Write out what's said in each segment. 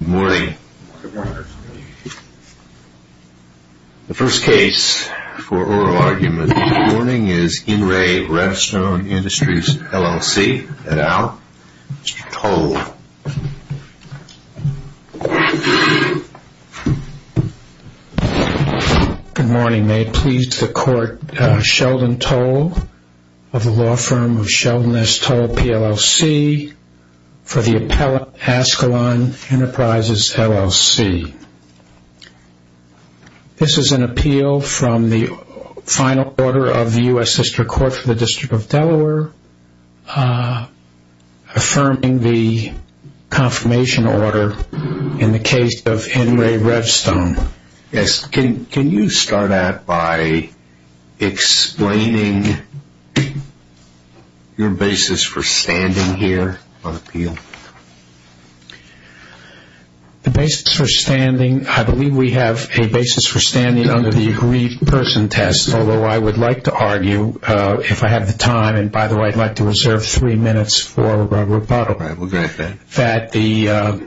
Good morning. The first case for oral argument this morning is In Re Revstone Industries, LLC, et al. Mr. Toll. Good morning. May it please the court, Sheldon Toll of the law firm of Sheldon S. Toll, PLLC, for the appellate Ascalon Enterprises, LLC. This is an appeal from the final order of the U.S. District Court for the District of Delaware, affirming the confirmation order in the case of In Re Revstone. Yes. Can you start out by explaining your basis for standing here on appeal? The basis for standing, I believe we have a basis for standing under the aggrieved person test, although I would like to argue, if I have the time, and by the way, I'd like to reserve three minutes for rebuttal, that the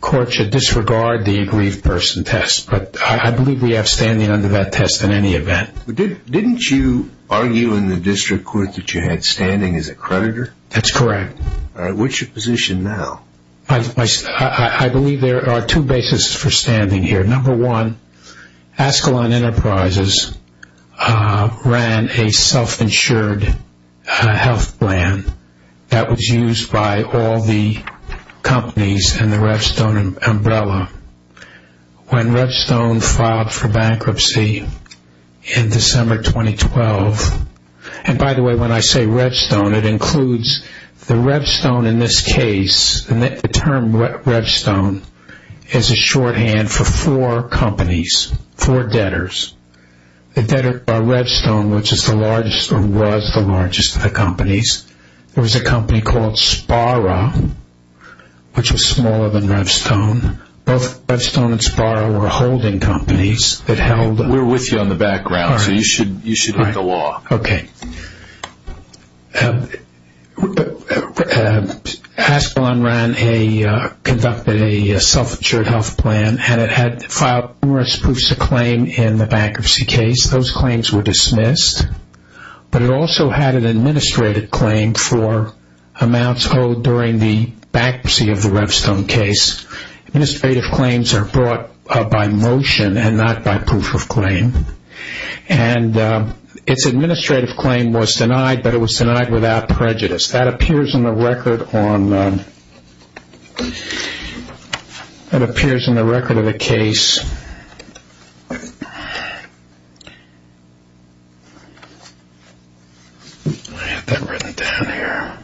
court should disregard the aggrieved person test, but I believe we have standing under that test in any event. Didn't you argue in the District Court that you had standing as a creditor? That's correct. All right. What's your position now? I believe there are two basis for standing here. Number one, Ascalon Enterprises ran a self-insured health plan that was used by all the companies in the Revstone umbrella. When Revstone filed for bankruptcy in December 2012, and by the way, when I say Revstone, it includes the Revstone in this case, and the term Revstone is a shorthand for four companies, four debtors. The debtor by Revstone, which is the largest or was the largest of the companies, there was a company called Sparra, which was smaller than Revstone. Both Revstone and Sparra were holding companies that held... We're with you on the background, so you should read the law. Okay. Ascalon conducted a self-insured health plan and it had filed numerous proofs of claim in the bankruptcy case. Those claims were dismissed, but it also had an administrative claim for amounts held during the bankruptcy of the Revstone case. Administrative claims are brought by motion and not by proof of claim. Its administrative claim was denied, but it was denied without prejudice. That appears in the record of the case. I have that written down here.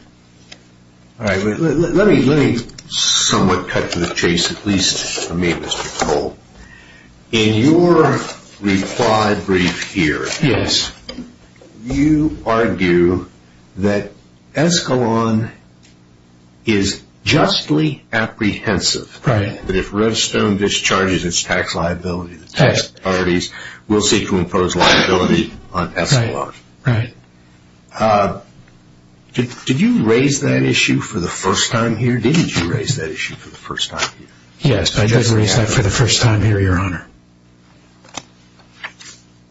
Let me somewhat cut to the chase, at least for me, Mr. Cole. In your required brief here, you argue that Ascalon is justly apprehensive that if Revstone discharges its tax liability, the tax authorities will seek to impose liability on Ascalon. Right. Did you raise that issue for the first time here? Didn't you raise that issue for the first time here? Yes, I did raise that for the first time here, Your Honor.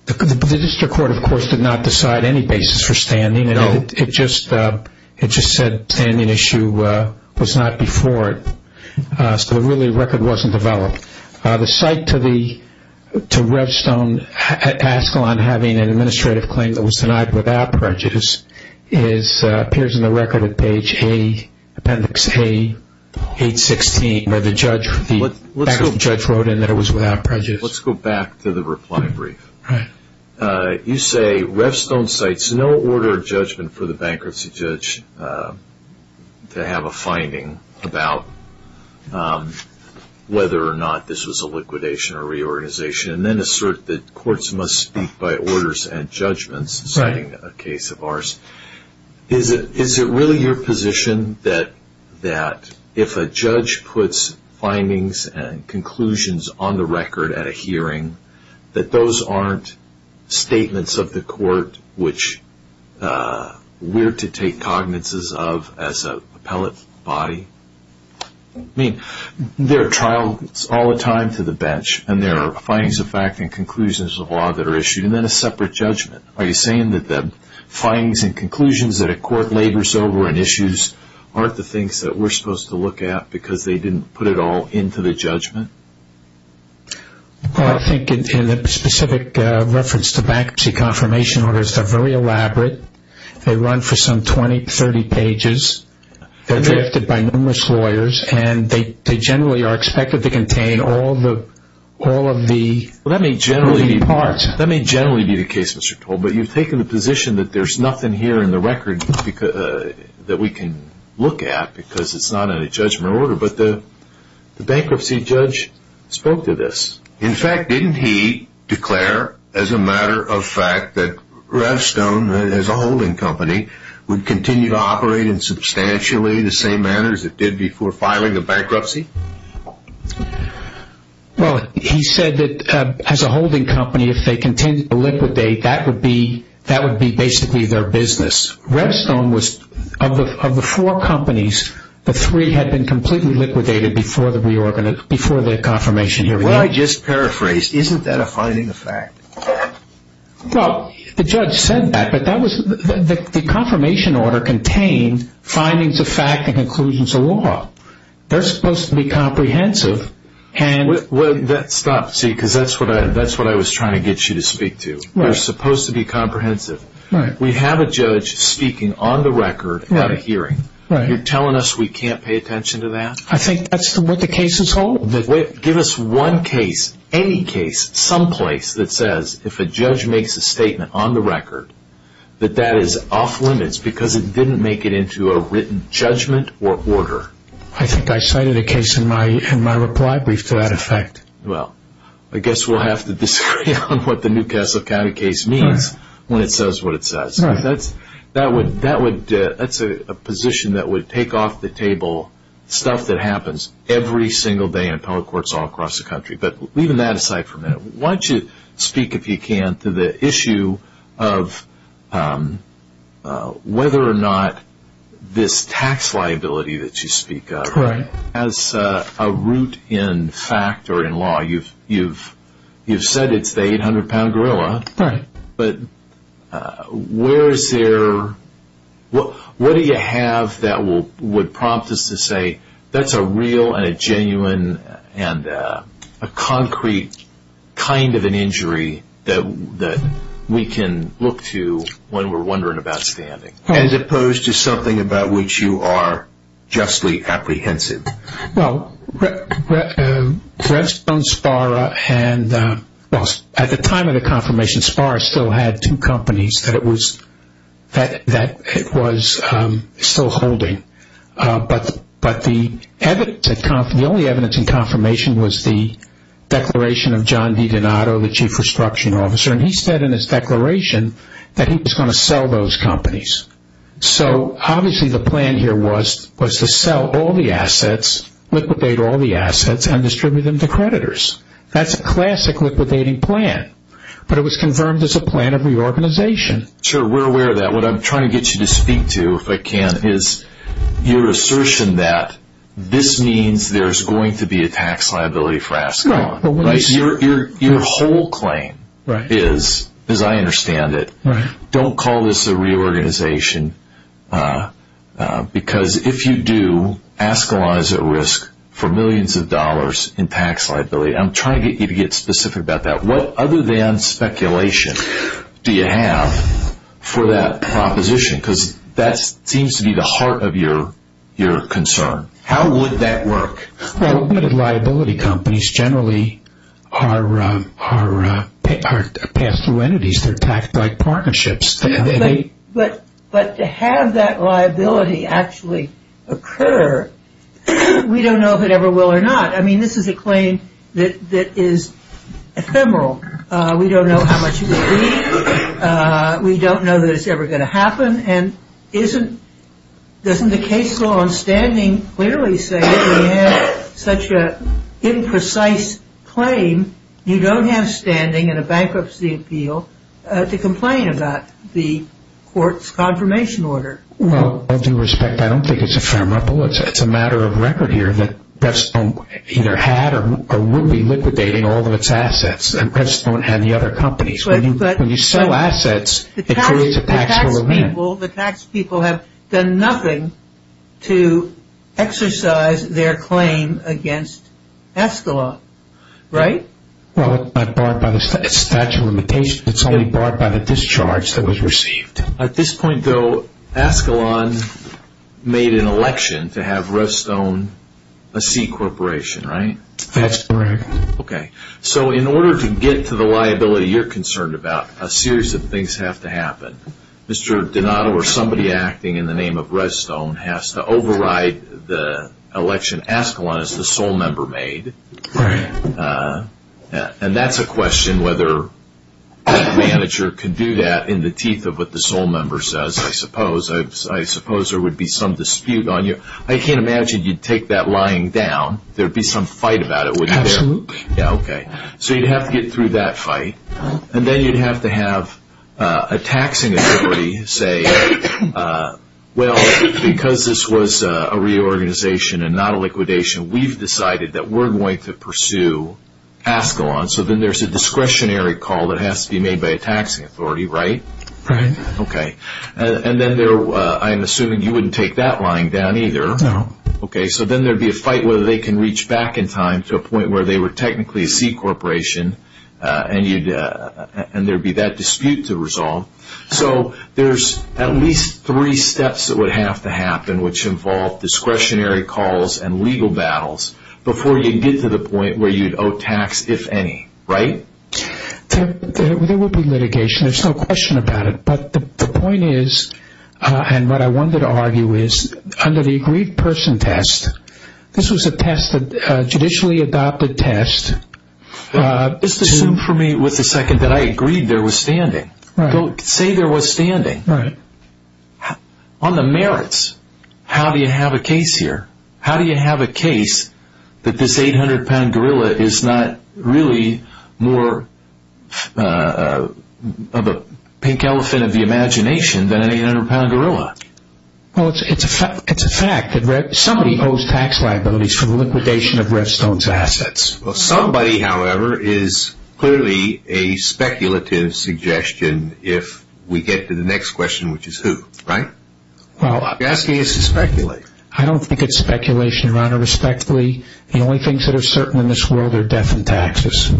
The district court, of course, did not decide any basis for standing. No. It just said standing issue was not before it, so really the record wasn't developed. The cite to Revstone, Ascalon having an administrative claim that was denied without prejudice, appears in the record at page A, appendix A, page 16, where the judge wrote in that it was without prejudice. Let's go back to the reply brief. All right. You say Revstone cites no order of judgment for the bankruptcy judge to have a finding about whether or not this was a liquidation or reorganization, and then assert that courts must speak by orders and judgments, citing a case of ours. Is it really your position that if a judge puts findings and conclusions on the record at a hearing, that those aren't statements of the court which we're to take cognizances of as an appellate body? I mean, there are trials all the time to the bench, and there are findings of fact and conclusions of law that are issued, and then a separate judgment. Are you saying that the findings and conclusions that a court labors over and issues aren't the things that we're supposed to look at because they didn't put it all into the judgment? I think in the specific reference to bankruptcy confirmation orders, they're very elaborate. They run for some 20, 30 pages. They're drafted by numerous lawyers, and they generally are expected to contain all of the parts. That may generally be the case, Mr. Toll, but you've taken the position that there's nothing here in the record that we can look at because it's not in a judgment order. But the bankruptcy judge spoke to this. In fact, didn't he declare as a matter of fact that Revstone, as a holding company, would continue to operate in substantially the same manner as it did before filing a bankruptcy? Well, he said that as a holding company, if they continue to liquidate, that would be basically their business. Revstone was, of the four companies, the three had been completely liquidated before the confirmation hearing. Well, I just paraphrased. Isn't that a finding of fact? Well, the judge said that, but the confirmation order contained findings of fact and conclusions of law. They're supposed to be comprehensive. Stop, see, because that's what I was trying to get you to speak to. They're supposed to be comprehensive. We have a judge speaking on the record at a hearing. You're telling us we can't pay attention to that? I think that's what the cases hold. Give us one case, any case, someplace that says if a judge makes a statement on the record that that is off limits because it didn't make it into a written judgment or order. I think I cited a case in my reply brief to that effect. Well, I guess we'll have to disagree on what the New Castle County case means when it says what it says. That's a position that would take off the table stuff that happens every single day in appellate courts all across the country. But leaving that aside for a minute, why don't you speak, if you can, to the issue of whether or not this tax liability that you speak of has a root in fact or in law. You've said it's the 800-pound gorilla. Right. But what do you have that would prompt us to say that's a real and a genuine and a concrete kind of an injury that we can look to when we're wondering about standing as opposed to something about which you are justly apprehensive? Well, at the time of the confirmation, Sparra still had two companies that it was still holding. But the only evidence in confirmation was the declaration of John V. Donato, the chief restructuring officer. And he said in his declaration that he was going to sell those companies. So obviously the plan here was to sell all the assets, liquidate all the assets, and distribute them to creditors. That's a classic liquidating plan. But it was confirmed as a plan of reorganization. Sure, we're aware of that. What I'm trying to get you to speak to, if I can, is your assertion that this means there's going to be a tax liability for Ascon. Your whole claim is, as I understand it, don't call this a reorganization because if you do, Ascon is at risk for millions of dollars in tax liability. I'm trying to get you to get specific about that. What other than speculation do you have for that proposition? Because that seems to be the heart of your concern. How would that work? Well, liability companies generally are pass-through entities. They're tax-like partnerships. But to have that liability actually occur, we don't know if it ever will or not. I mean, this is a claim that is ephemeral. We don't know how much it will be. Doesn't the case law on standing clearly say that we have such an imprecise claim? You don't have standing in a bankruptcy appeal to complain about the court's confirmation order. Well, with all due respect, I don't think it's ephemeral. It's a matter of record here that Preston either had or would be liquidating all of its assets. And Preston won't have the other companies. When you sell assets, it creates a taxable limit. The tax people have done nothing to exercise their claim against Escalon, right? Well, it's not barred by the statute of limitations. It's only barred by the discharge that was received. At this point, though, Escalon made an election to have Rust own a C corporation, right? That's correct. Okay. So in order to get to the liability you're concerned about, a series of things have to happen. Mr. Donato or somebody acting in the name of Rust own has to override the election Escalon is the sole member made. Right. And that's a question whether the manager can do that in the teeth of what the sole member says, I suppose. I suppose there would be some dispute on you. I can't imagine you'd take that lying down. There would be some fight about it, wouldn't there? Absolutely. Yeah, okay. So you'd have to get through that fight. And then you'd have to have a taxing authority say, well, because this was a reorganization and not a liquidation, we've decided that we're going to pursue Escalon. So then there's a discretionary call that has to be made by a taxing authority, right? Right. Okay. And then I'm assuming you wouldn't take that lying down either. No. Okay. So then there'd be a fight whether they can reach back in time to a point where they were technically a C corporation and there'd be that dispute to resolve. So there's at least three steps that would have to happen which involve discretionary calls and legal battles before you get to the point where you'd owe tax, if any, right? There would be litigation. There's no question about it. But the point is, and what I wanted to argue is, under the agreed person test, this was a test, a judicially adopted test. Just assume for me with a second that I agreed there was standing. Say there was standing. Right. On the merits, how do you have a case here? than an 800-pound gorilla? Well, it's a fact that somebody owes tax liabilities for the liquidation of Redstone's assets. Well, somebody, however, is clearly a speculative suggestion if we get to the next question, which is who, right? You're asking us to speculate. I don't think it's speculation, Your Honor, respectfully. The only things that are certain in this world are death and taxes.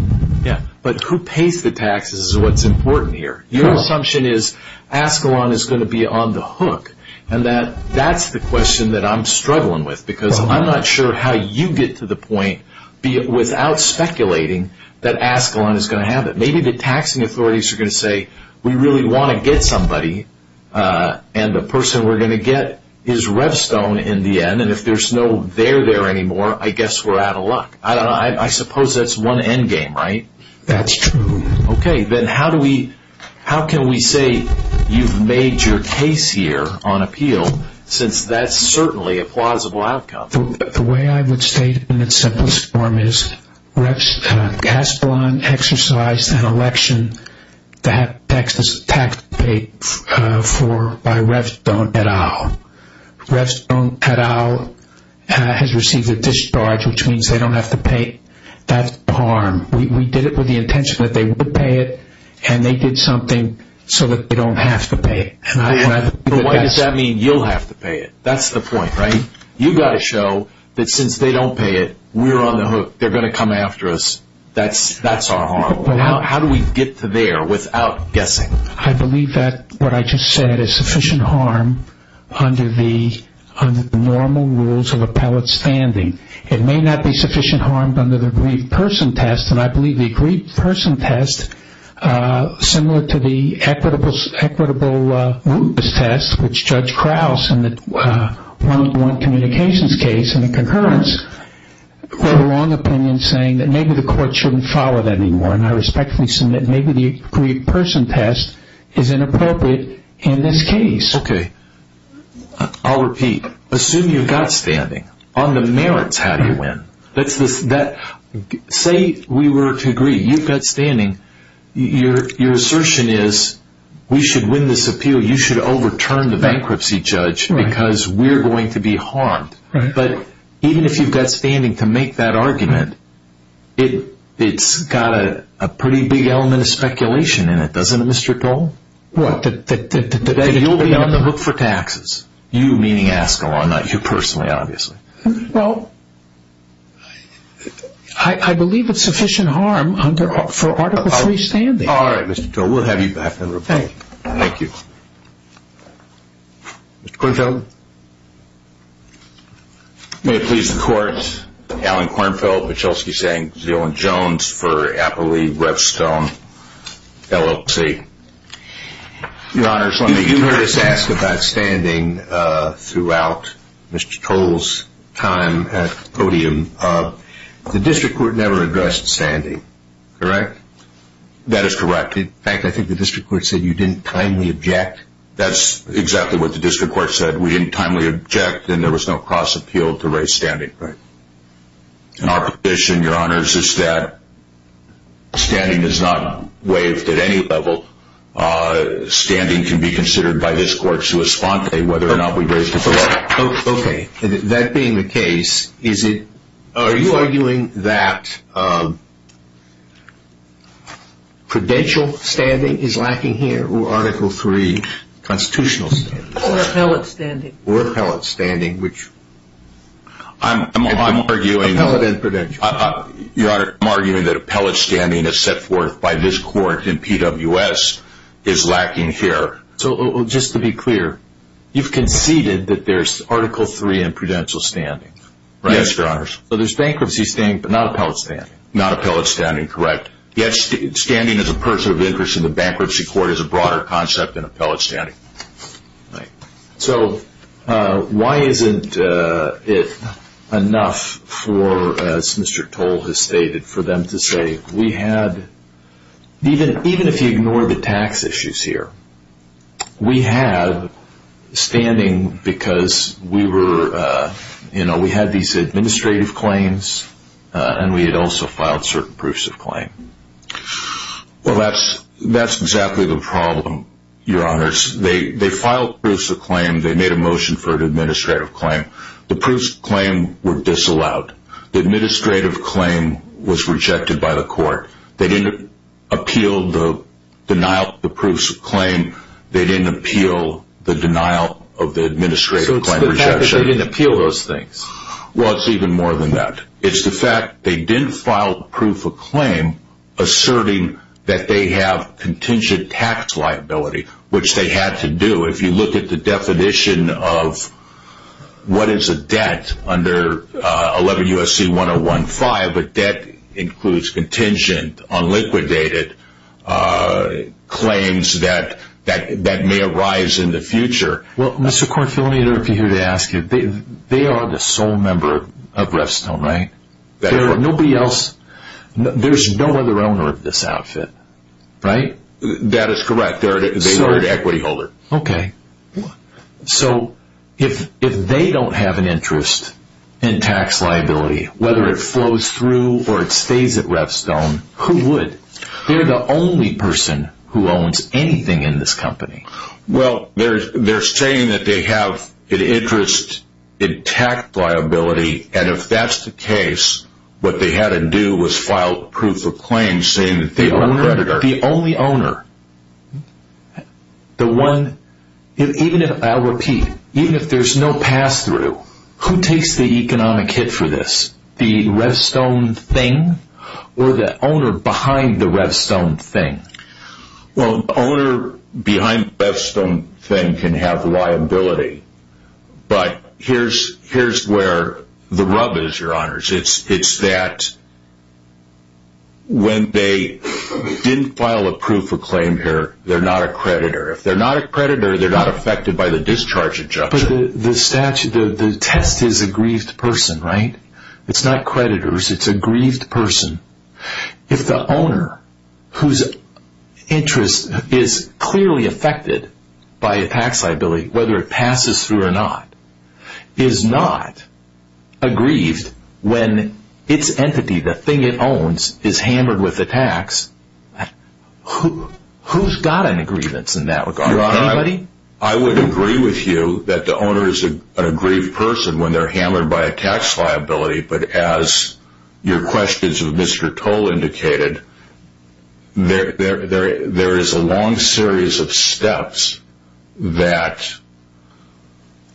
Yeah, but who pays the taxes is what's important here. Your assumption is Ascalon is going to be on the hook, and that's the question that I'm struggling with, because I'm not sure how you get to the point, without speculating, that Ascalon is going to have it. Maybe the taxing authorities are going to say, we really want to get somebody, and the person we're going to get is Redstone in the end, and if there's no there there anymore, I guess we're out of luck. I suppose that's one endgame, right? That's true. Okay. Then how can we say you've made your case here on appeal, since that's certainly a plausible outcome? The way I would state it in its simplest form is Ascalon exercised an election that taxes were paid for by Redstone et al. Redstone et al. has received a discharge, which means they don't have to pay that harm. We did it with the intention that they would pay it, and they did something so that they don't have to pay it. Why does that mean you'll have to pay it? That's the point, right? You've got to show that since they don't pay it, we're on the hook. They're going to come after us. That's our harm. How do we get to there without guessing? I believe that what I just said is sufficient harm under the normal rules of appellate standing. It may not be sufficient harm under the aggrieved person test, and I believe the aggrieved person test, similar to the equitable rootless test, which Judge Krause in the one-to-one communications case in the concurrence, put a wrong opinion saying that maybe the court shouldn't follow that anymore. And I respectfully submit maybe the aggrieved person test is inappropriate in this case. Okay. I'll repeat. Assume you've got standing. On the merits, how do you win? Say we were to agree. You've got standing. Your assertion is we should win this appeal. You should overturn the bankruptcy judge because we're going to be harmed. But even if you've got standing to make that argument, it's got a pretty big element of speculation in it, doesn't it, Mr. Dole? What? That you'll be on the hook for taxes. You meaning Askew. I'm not you personally, obviously. Well, I believe it's sufficient harm for Article III standing. All right, Mr. Dole. We'll have you back in the room. Thank you. Thank you. Mr. Kornfeld? May it please the Court. Alan Kornfeld, Michelski, Zeland, Jones for Appley, Redstone, LLC. Your Honor, you've heard us ask about standing throughout Mr. Dole's time at the podium. The district court never addressed standing, correct? That is correct. In fact, I think the district court said you didn't timely object. That's exactly what the district court said. We didn't timely object, and there was no cross-appeal to raise standing. Right. And our position, Your Honor, is that standing is not waived at any level. Standing can be considered by this Court, sua sponte, whether or not we raise it at all. Okay. That being the case, are you arguing that prudential standing is lacking here or Article III constitutional standing? Or appellate standing. Or appellate standing, which I'm arguing. Appellate and prudential. Your Honor, I'm arguing that appellate standing as set forth by this Court in PWS is lacking here. Just to be clear, you've conceded that there's Article III and prudential standing, right? Yes, Your Honor. So there's bankruptcy standing, but not appellate standing. Not appellate standing, correct. Yes, standing as a person of interest in the bankruptcy court is a broader concept than appellate standing. Right. So why isn't it enough for, as Mr. Toll has stated, for them to say, we had, even if you ignore the tax issues here, we have standing because we were, you know, we had these administrative claims and we had also filed certain proofs of claim. Well, that's exactly the problem, Your Honor. They filed proofs of claim. They made a motion for an administrative claim. The proofs of claim were disallowed. The administrative claim was rejected by the Court. They didn't appeal the denial of the proofs of claim. They didn't appeal the denial of the administrative claim rejection. So it's the fact that they didn't appeal those things. Well, it's even more than that. It's the fact they didn't file proof of claim asserting that they have contingent tax liability, which they had to do. If you look at the definition of what is a debt under 11 U.S.C. 1015, a debt includes contingent, unliquidated claims that may arise in the future. Well, Mr. Court, feel free to ask you. They are the sole member of Revstone, right? That's correct. There's nobody else. There's no other owner of this outfit, right? That is correct. They are an equity holder. Okay. So if they don't have an interest in tax liability, whether it flows through or it stays at Revstone, who would? They're the only person who owns anything in this company. Well, they're saying that they have an interest in tax liability, and if that's the case, what they had to do was file proof of claim saying that they were a creditor. The only owner, the one, even if, I'll repeat, even if there's no pass-through, who takes the economic hit for this? The Revstone thing or the owner behind the Revstone thing? Well, the owner behind the Revstone thing can have liability, but here's where the rub is, Your Honors. It's that when they didn't file a proof of claim here, they're not a creditor. If they're not a creditor, they're not affected by the discharge injunction. But the statute, the test is a grieved person, right? It's not creditors. It's a grieved person. If the owner whose interest is clearly affected by a tax liability, whether it passes through or not, is not aggrieved when its entity, the thing it owns, is hammered with a tax, who's got an aggrievance in that regard? Your Honor, I would agree with you that the owner is a grieved person when they're hammered by a tax liability, but as your questions of Mr. Toll indicated, there is a long series of steps that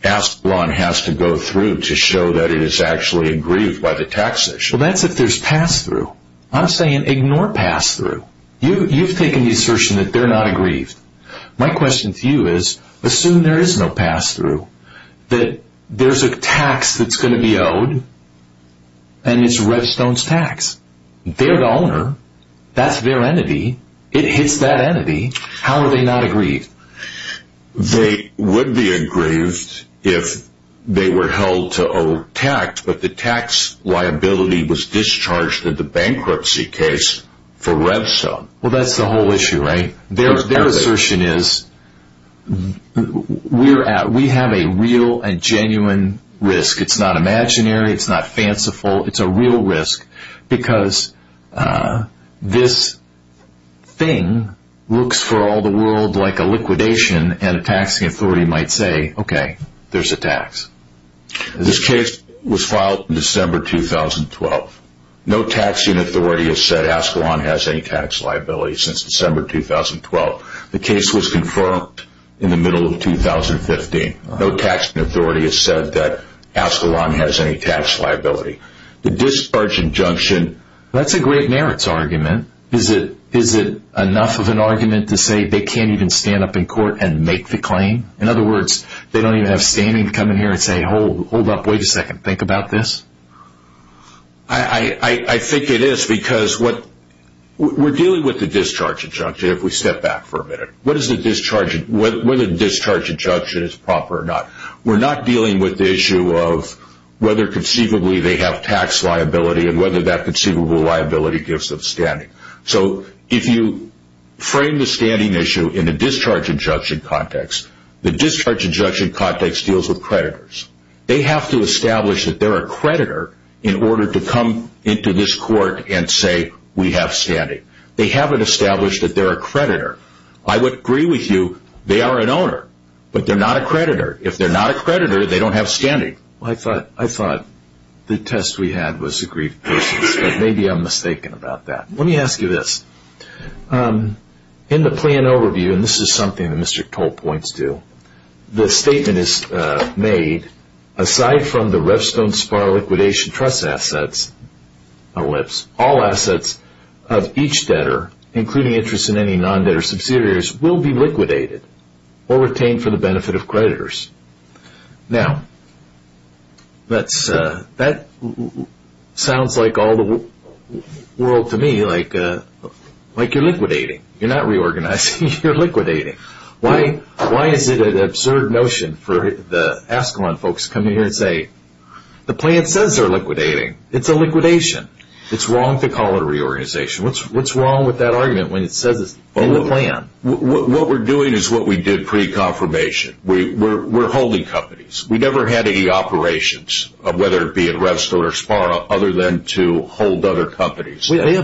Asperon has to go through to show that it is actually aggrieved by the tax issue. Well, that's if there's pass-through. I'm saying ignore pass-through. You've taken the assertion that they're not aggrieved. My question to you is, assume there is no pass-through, that there's a tax that's going to be owed, and it's Redstone's tax. They're the owner. That's their entity. It hits that entity. How are they not aggrieved? They would be aggrieved if they were held to owe tax, but the tax liability was discharged in the bankruptcy case for Redstone. Well, that's the whole issue, right? Their assertion is, we have a real and genuine risk. It's not imaginary. It's not fanciful. It's a real risk because this thing looks for all the world like a liquidation, and a taxing authority might say, okay, there's a tax. This case was filed in December 2012. No taxing authority has said Ascalon has any tax liability since December 2012. The case was confirmed in the middle of 2015. No taxing authority has said that Ascalon has any tax liability. The discharge injunction, that's a great merits argument. Is it enough of an argument to say they can't even stand up in court and make the claim? In other words, they don't even have standing to come in here and say, hold up, wait a second, think about this. I think it is because we're dealing with the discharge injunction. If we step back for a minute, whether the discharge injunction is proper or not, we're not dealing with the issue of whether conceivably they have tax liability and whether that conceivable liability gives them standing. So if you frame the standing issue in a discharge injunction context, the discharge injunction context deals with creditors. They have to establish that they're a creditor in order to come into this court and say, we have standing. They haven't established that they're a creditor. I would agree with you, they are an owner, but they're not a creditor. If they're not a creditor, they don't have standing. I thought the test we had was a grief basis, but maybe I'm mistaken about that. Let me ask you this. In the plan overview, and this is something that Mr. Cole points to, the statement is made, aside from the Revstone SPAR liquidation trust assets, all assets of each debtor, including interest in any non-debtor subsidiaries, will be liquidated or retained for the benefit of creditors. Now, that sounds like all the world to me, like you're liquidating. You're not reorganizing, you're liquidating. Why is it an absurd notion for the Esquimalt folks to come in here and say, the plan says they're liquidating, it's a liquidation. It's wrong to call it a reorganization. What's wrong with that argument when it says it's in the plan? What we're doing is what we did pre-confirmation. We're holding companies. We never had any operations, whether it be at Revstone or SPAR, other than to hold other companies. I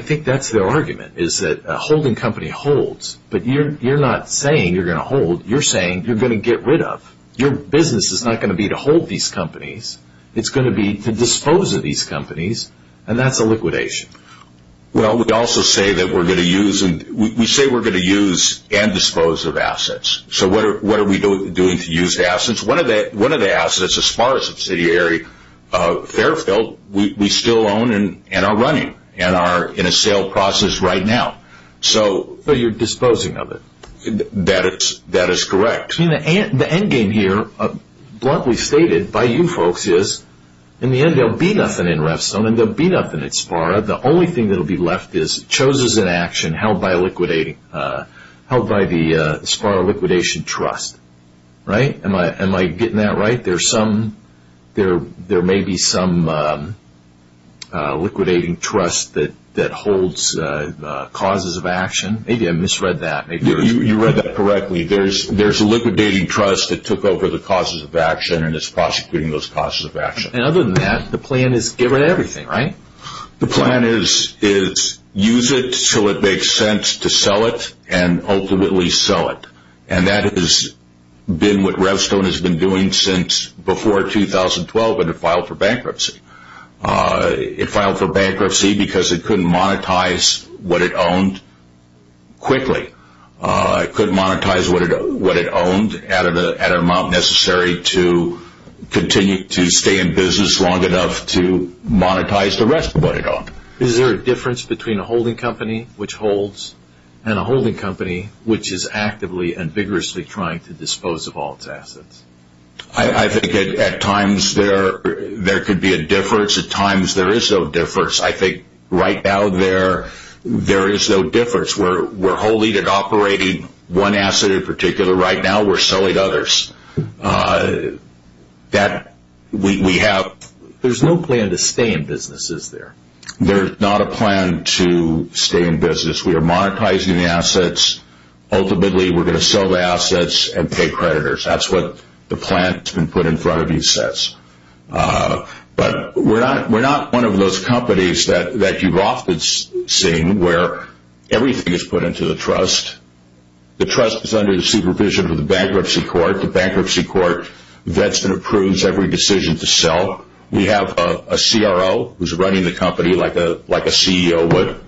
think that's their argument, is that a holding company holds, but you're not saying you're going to hold. You're saying you're going to get rid of. Your business is not going to be to hold these companies. It's going to be to dispose of these companies, and that's a liquidation. Well, we also say that we're going to use and dispose of assets. So what are we doing to use the assets? One of the assets, a SPAR subsidiary, Fairfield, we still own and are running and are in a sale process right now. But you're disposing of it. That is correct. The end game here, bluntly stated by you folks, is in the end there will be nothing in Revstone, and there will be nothing at SPAR. The only thing that will be left is chosers in action held by the SPAR liquidation trust. Am I getting that right? There may be some liquidating trust that holds causes of action. Maybe I misread that. You read that correctly. There's a liquidating trust that took over the causes of action and is prosecuting those causes of action. Other than that, the plan is get rid of everything, right? The plan is use it until it makes sense to sell it, and ultimately sell it. And that has been what Revstone has been doing since before 2012 when it filed for bankruptcy. It filed for bankruptcy because it couldn't monetize what it owned quickly. It couldn't monetize what it owned at an amount necessary to continue to stay in business long enough to monetize the rest of what it owned. Is there a difference between a holding company which holds and a holding company which is actively and vigorously trying to dispose of all its assets? I think at times there could be a difference. At times there is no difference. I think right now there is no difference. We're holding and operating one asset in particular. Right now we're selling others. There's no plan to stay in business, is there? There's not a plan to stay in business. We are monetizing the assets. Ultimately we're going to sell the assets and pay creditors. That's what the plan that's been put in front of you says. But we're not one of those companies that you've often seen where everything is put into the trust. The trust is under the supervision of the bankruptcy court. The bankruptcy court vets and approves every decision to sell. We have a CRO who's running the company like a CEO would.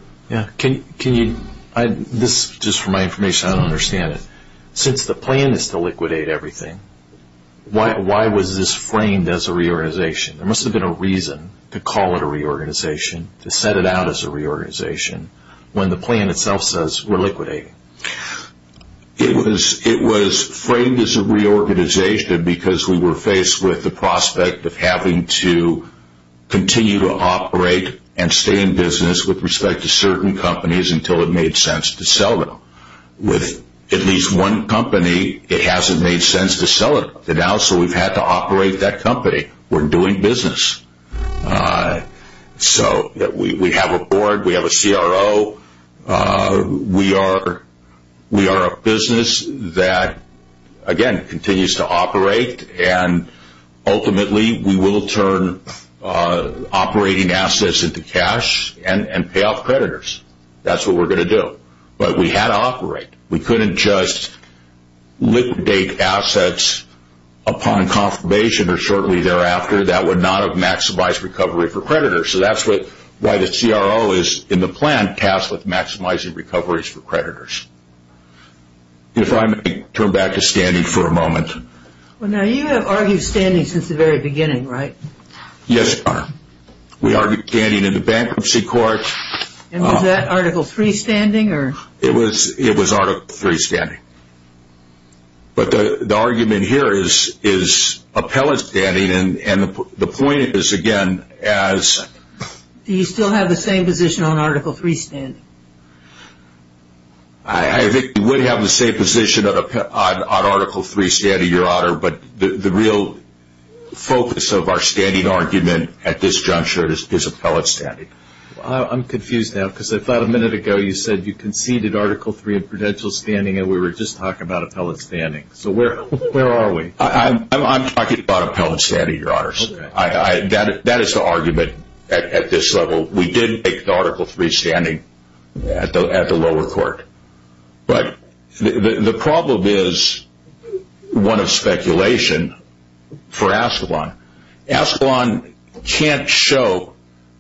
Just for my information, I don't understand it. Since the plan is to liquidate everything, why was this framed as a reorganization? There must have been a reason to call it a reorganization, to set it out as a reorganization, when the plan itself says we're liquidating. It was framed as a reorganization because we were faced with the prospect of having to continue to operate and stay in business with respect to certain companies until it made sense to sell them. With at least one company, it hasn't made sense to sell it. So we've had to operate that company. We're doing business. We have a board. We have a CRO. We are a business that, again, continues to operate. Ultimately, we will turn operating assets into cash and pay off creditors. That's what we're going to do. But we had to operate. We couldn't just liquidate assets upon confirmation or shortly thereafter. That would not have maximized recovery for creditors. So that's why the CRO is, in the plan, tasked with maximizing recoveries for creditors. If I may turn back to standing for a moment. Well, now, you have argued standing since the very beginning, right? Yes, Your Honor. We argued standing in the bankruptcy court. Was that Article III standing? It was Article III standing. But the argument here is appellate standing, and the point is, again, as — Do you still have the same position on Article III standing? I think we would have the same position on Article III standing, Your Honor, but the real focus of our standing argument at this juncture is appellate standing. I'm confused now because I thought a minute ago you said you conceded Article III and prudential standing and we were just talking about appellate standing. So where are we? I'm talking about appellate standing, Your Honors. That is the argument at this level. We did make the Article III standing at the lower court. But the problem is one of speculation for Ascalon. Ascalon can't show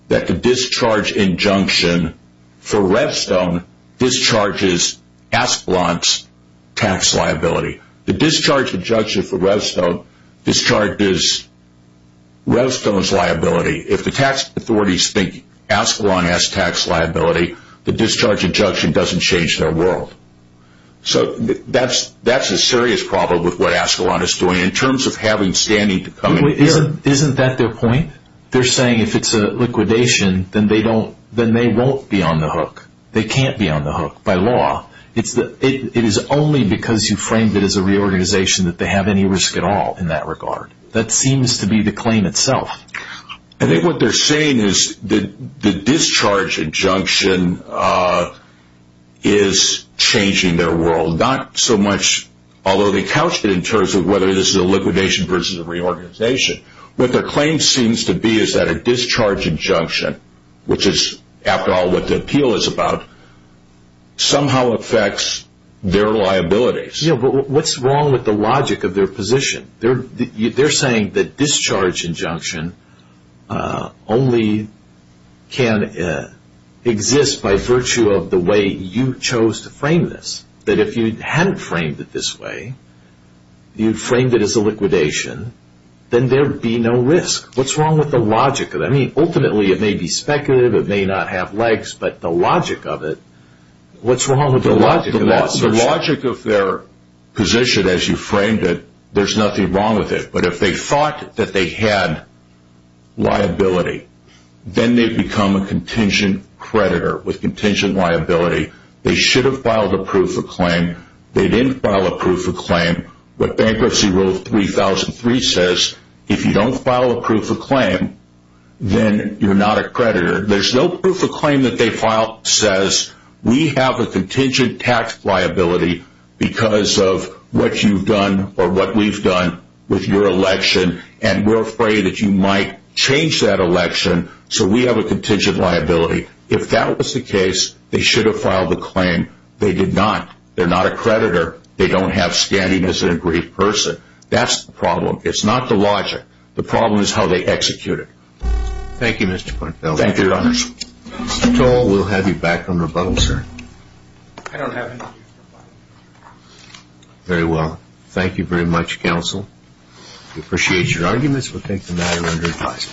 that the discharge injunction for Revstone discharges Ascalon's tax liability. The discharge injunction for Revstone discharges Revstone's liability. If the tax authorities think Ascalon has tax liability, the discharge injunction doesn't change their world. So that's a serious problem with what Ascalon is doing in terms of having standing to come in here. Isn't that their point? They're saying if it's a liquidation, then they won't be on the hook. They can't be on the hook by law. It is only because you framed it as a reorganization that they have any risk at all in that regard. That seems to be the claim itself. I think what they're saying is the discharge injunction is changing their world. Not so much, although they couched it in terms of whether this is a liquidation versus a reorganization. What their claim seems to be is that a discharge injunction, which is after all what the appeal is about, somehow affects their liabilities. Yeah, but what's wrong with the logic of their position? They're saying the discharge injunction only can exist by virtue of the way you chose to frame this. That if you hadn't framed it this way, you framed it as a liquidation, then there would be no risk. What's wrong with the logic of it? I mean, ultimately it may be speculative, it may not have legs, but the logic of it, what's wrong with the logic of it? There's nothing wrong with it, but if they thought that they had liability, then they become a contingent creditor with contingent liability. They should have filed a proof of claim. They didn't file a proof of claim. What Bankruptcy Rule 3003 says, if you don't file a proof of claim, then you're not a creditor. There's no proof of claim that they filed that says, we have a contingent tax liability because of what you've done or what we've done with your election, and we're afraid that you might change that election, so we have a contingent liability. If that was the case, they should have filed the claim. They did not. They're not a creditor. They don't have standing as an aggrieved person. That's the problem. It's not the logic. The problem is how they execute it. Thank you, Mr. Pointfield. Thank you, Your Honor. Mr. Toll, we'll have you back on rebuttal, sir. I don't have anything to rebuttal. Very well. Thank you very much, counsel. We appreciate your arguments. We'll take the matter under advisory.